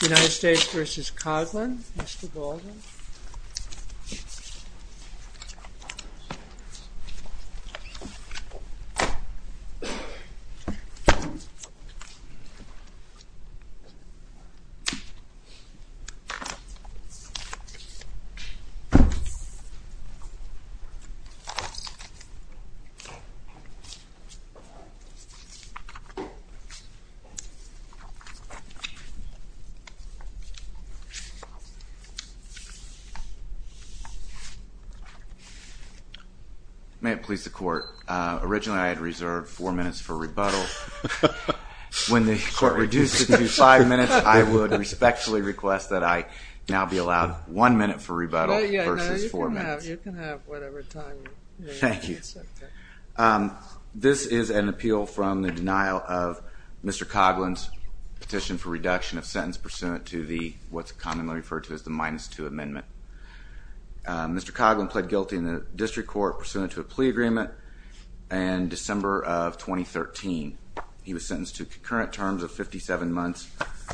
United States v. Koglin May it please the court, originally I had reserved four minutes for rebuttal. When the court reduced it to five minutes, I would respectfully request that I now be allowed one minute for rebuttal versus four minutes. Thank you. This is an appeal from the denial of Mr. Koglin's petition for reduction of sentence pursuant to what's commonly referred to as the minus two amendment. Mr. Koglin pled guilty in the district court pursuant to a plea agreement in December of 2013. He was sentenced to concurrent terms of 57 months,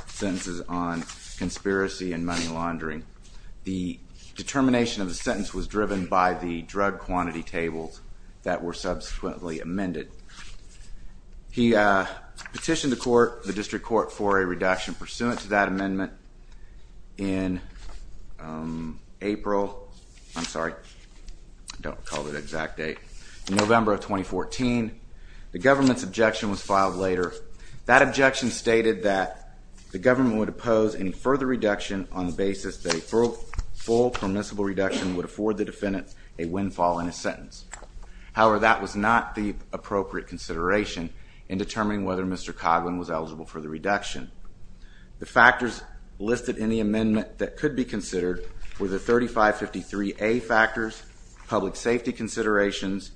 sentences on conspiracy and money laundering. The determination of the sentence was driven by the drug quantity tables that were subsequently amended. He petitioned the court, the district court, for a reduction pursuant to that amendment in April, I'm sorry, I don't recall the exact date, November of 2014. The government's objection was filed later. That objection stated that the government would oppose any further reduction on the basis that a full permissible reduction would afford the defendant a windfall in a sentence. However, that was not the appropriate consideration in determining whether Mr. Koglin was eligible for the reduction. The factors listed in the amendment that could be considered were the 3553A factors, public safety considerations,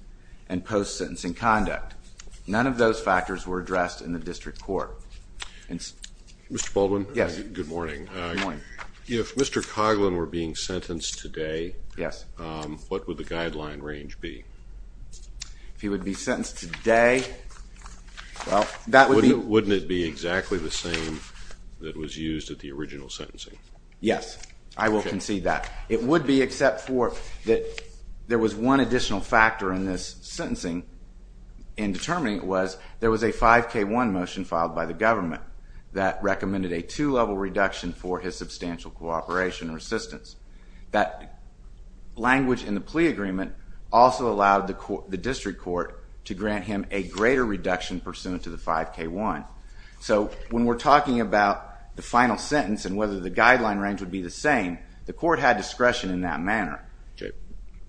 and post-sentencing conduct. None of those If Mr. Koglin were being sentenced today, what would the guideline range be? If he would be sentenced today, well, that would be... Wouldn't it be exactly the same that was used at the original sentencing? Yes, I will concede that. It would be except for that there was one additional factor in this sentencing in determining it was there was a 5K1 motion filed by the government that recommended a two-level reduction for his substantial cooperation or assistance. That language in the plea agreement also allowed the district court to grant him a greater reduction pursuant to the 5K1. So when we're talking about the final sentence and whether the guideline range would be the same, the court had discretion in that manner.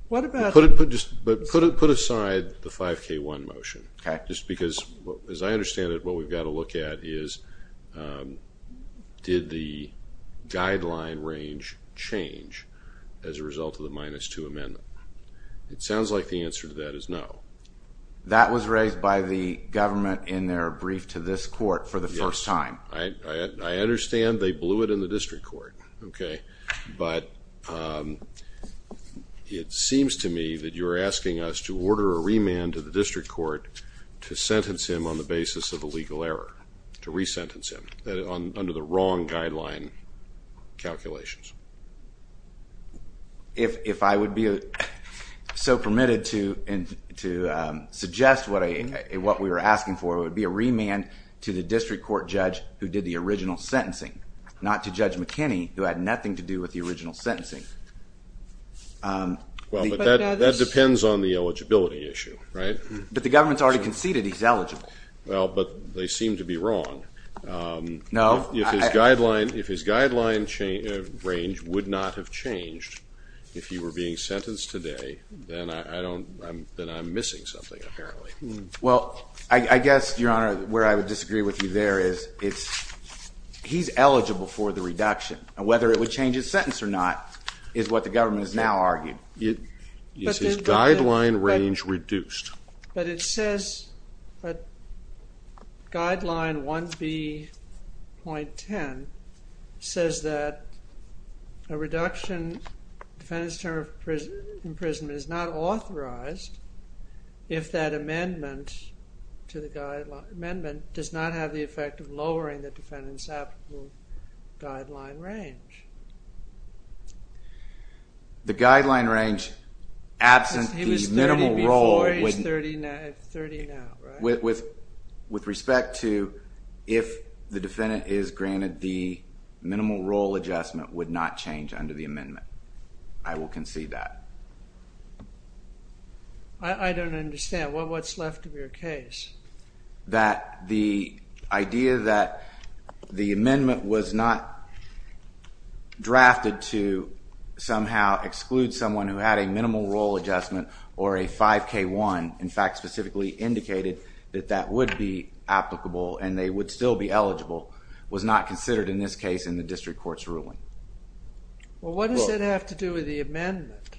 But put aside the 5K1 motion, just because as I understand it, what we've got to look at is, did the guideline range change as a result of the minus two amendment? It sounds like the answer to that is no. That was raised by the government in their brief to this court for the first time. Yes, I understand they blew it in the district court, okay, but it seems to me that you're asking us to order a remand to the district court to sentence him on the basis of a legal error, to re-sentence him under the wrong guideline calculations. If I would be so permitted to suggest what we were asking for, it would be a remand to the district court judge who did the original sentencing, not to Judge McKinney who had nothing to do with the original sentencing. Well, but that depends on the eligibility issue, right? But the government's already conceded he's eligible. Well, but they seem to be wrong. No. If his guideline range would not have changed if he were being sentenced today, then I'm missing something apparently. Well, I guess, Your Honor, where I would disagree with you there is he's eligible for the reduction, and whether it would change his sentence or not is what the government has now argued. Is his guideline range reduced? But it says, but guideline 1B.10 says that a reduction, defendant's term of imprisonment is not authorized if that amendment to the guideline, amendment does not have the effect of lowering the defendant's guideline range. The guideline range absent the minimal role... He was 30 before, he's 30 now, right? With respect to if the defendant is granted the minimal role adjustment would not change under the amendment. I will concede that. I don't understand. What's left of your case? That the idea that the amendment was not drafted to somehow exclude someone who had a minimal role adjustment or a 5K1, in fact specifically indicated that that would be applicable and they would still be eligible, was not considered in this case in the district court's ruling. Well, what does that have to do with the amendment?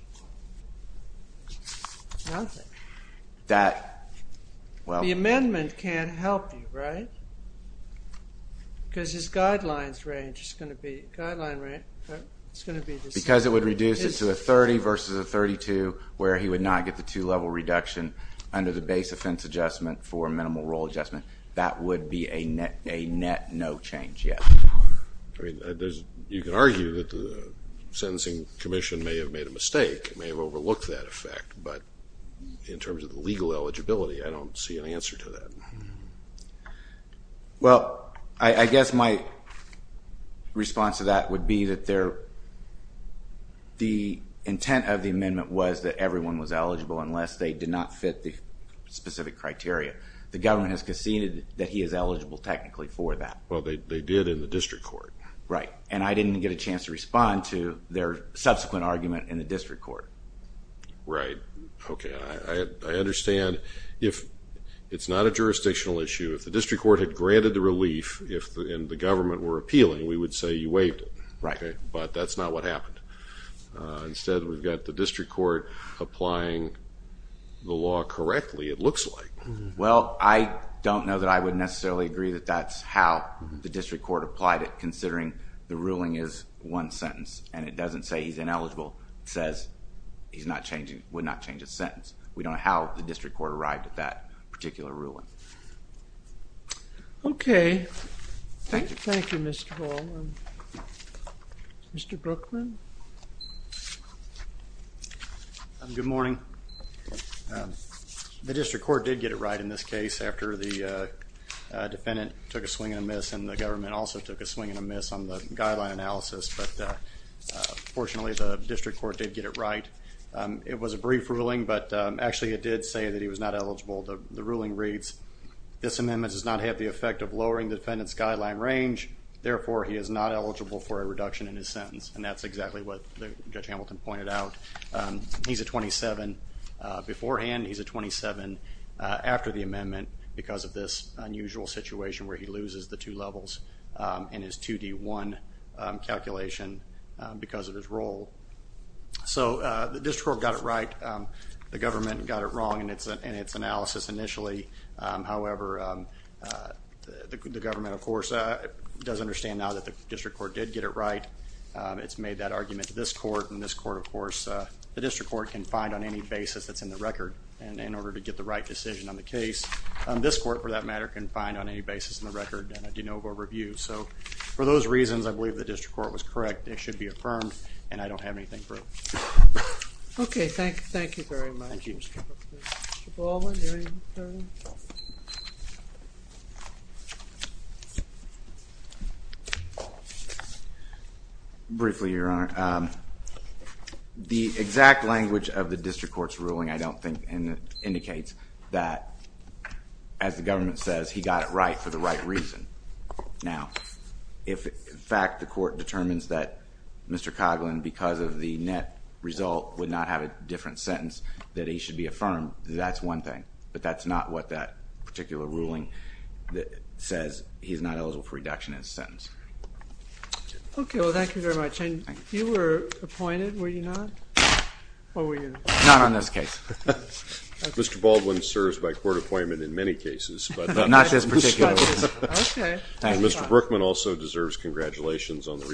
Nothing. The amendment can't help you, right? Because his guidelines range is going to be... Because it would reduce it to a 30 versus a 32 where he would not get the two-level reduction under the base offense adjustment for minimal role adjustment. That would be a net no change, yes. You can argue that the sentencing commission may have made a mistake, may have overlooked that effect, but in terms of the legal eligibility, I don't see an answer to that. Well, I guess my response to that would be that the intent of the amendment was that everyone was eligible unless they did not fit the specific criteria. The government has conceded that he is eligible technically for that. Well, they did in the district court. Right, and I didn't get a chance to respond to their subsequent argument in the district court. Right, okay. I understand if it's not a jurisdictional issue, if the district court had granted the relief, if the government were appealing, we would say you waived it, but that's not what happened. Instead, we've got the district court applying the law correctly, it looks like. Well, I don't know that I would necessarily agree that that's how the district court applied it considering the ruling is one sentence and it doesn't say he's ineligible. It says he's not changing, would not change his sentence. We don't know how the district court arrived at that particular ruling. Okay, thank you. Thank you, Mr. Hall. Mr. Brookman? Good morning. The district court did get it right in this case after the defendant took a swing and a miss and the government also took a swing and a miss on the guideline analysis, but fortunately the district court did get it right. It was a brief ruling, but actually it did say that he was not eligible. The ruling reads, this amendment does not have the effect of lowering the defendant's guideline range, therefore he is not eligible for a reduction in his sentence, and that's exactly what Judge Hamilton pointed out. He's a 27 beforehand, he's a 27 after the amendment because of this unusual situation where he loses the two levels in his 2D1 calculation because of his role. So the district court got it right, the government got it wrong in its analysis initially, however the government, of course, does understand now that the district court did get it right. It's made that argument to this court, of course, the district court can find on any basis that's in the record and in order to get the right decision on the case, this court, for that matter, can find on any basis in the record and a de novo review. So for those reasons, I believe the district court was correct. It should be affirmed and I don't have anything for it. Okay, thank you. Thank you very much. Briefly, your honor, the exact language of the district court's ruling I don't think indicates that, as the government says, he got it right for the right reason. Now, if in fact the court determines that Mr. Coughlin, because of the net result, would not have a different sentence, that he should be affirmed, that's one thing, but that's not what that particular ruling that says he's not eligible for reduction in his sentence. Okay, well thank you very much. You were appointed, were you not? Not on this case. Mr. Baldwin serves by court appointment in many cases, but not this particular one. Okay. Mr. Brookman also deserves congratulations on the recent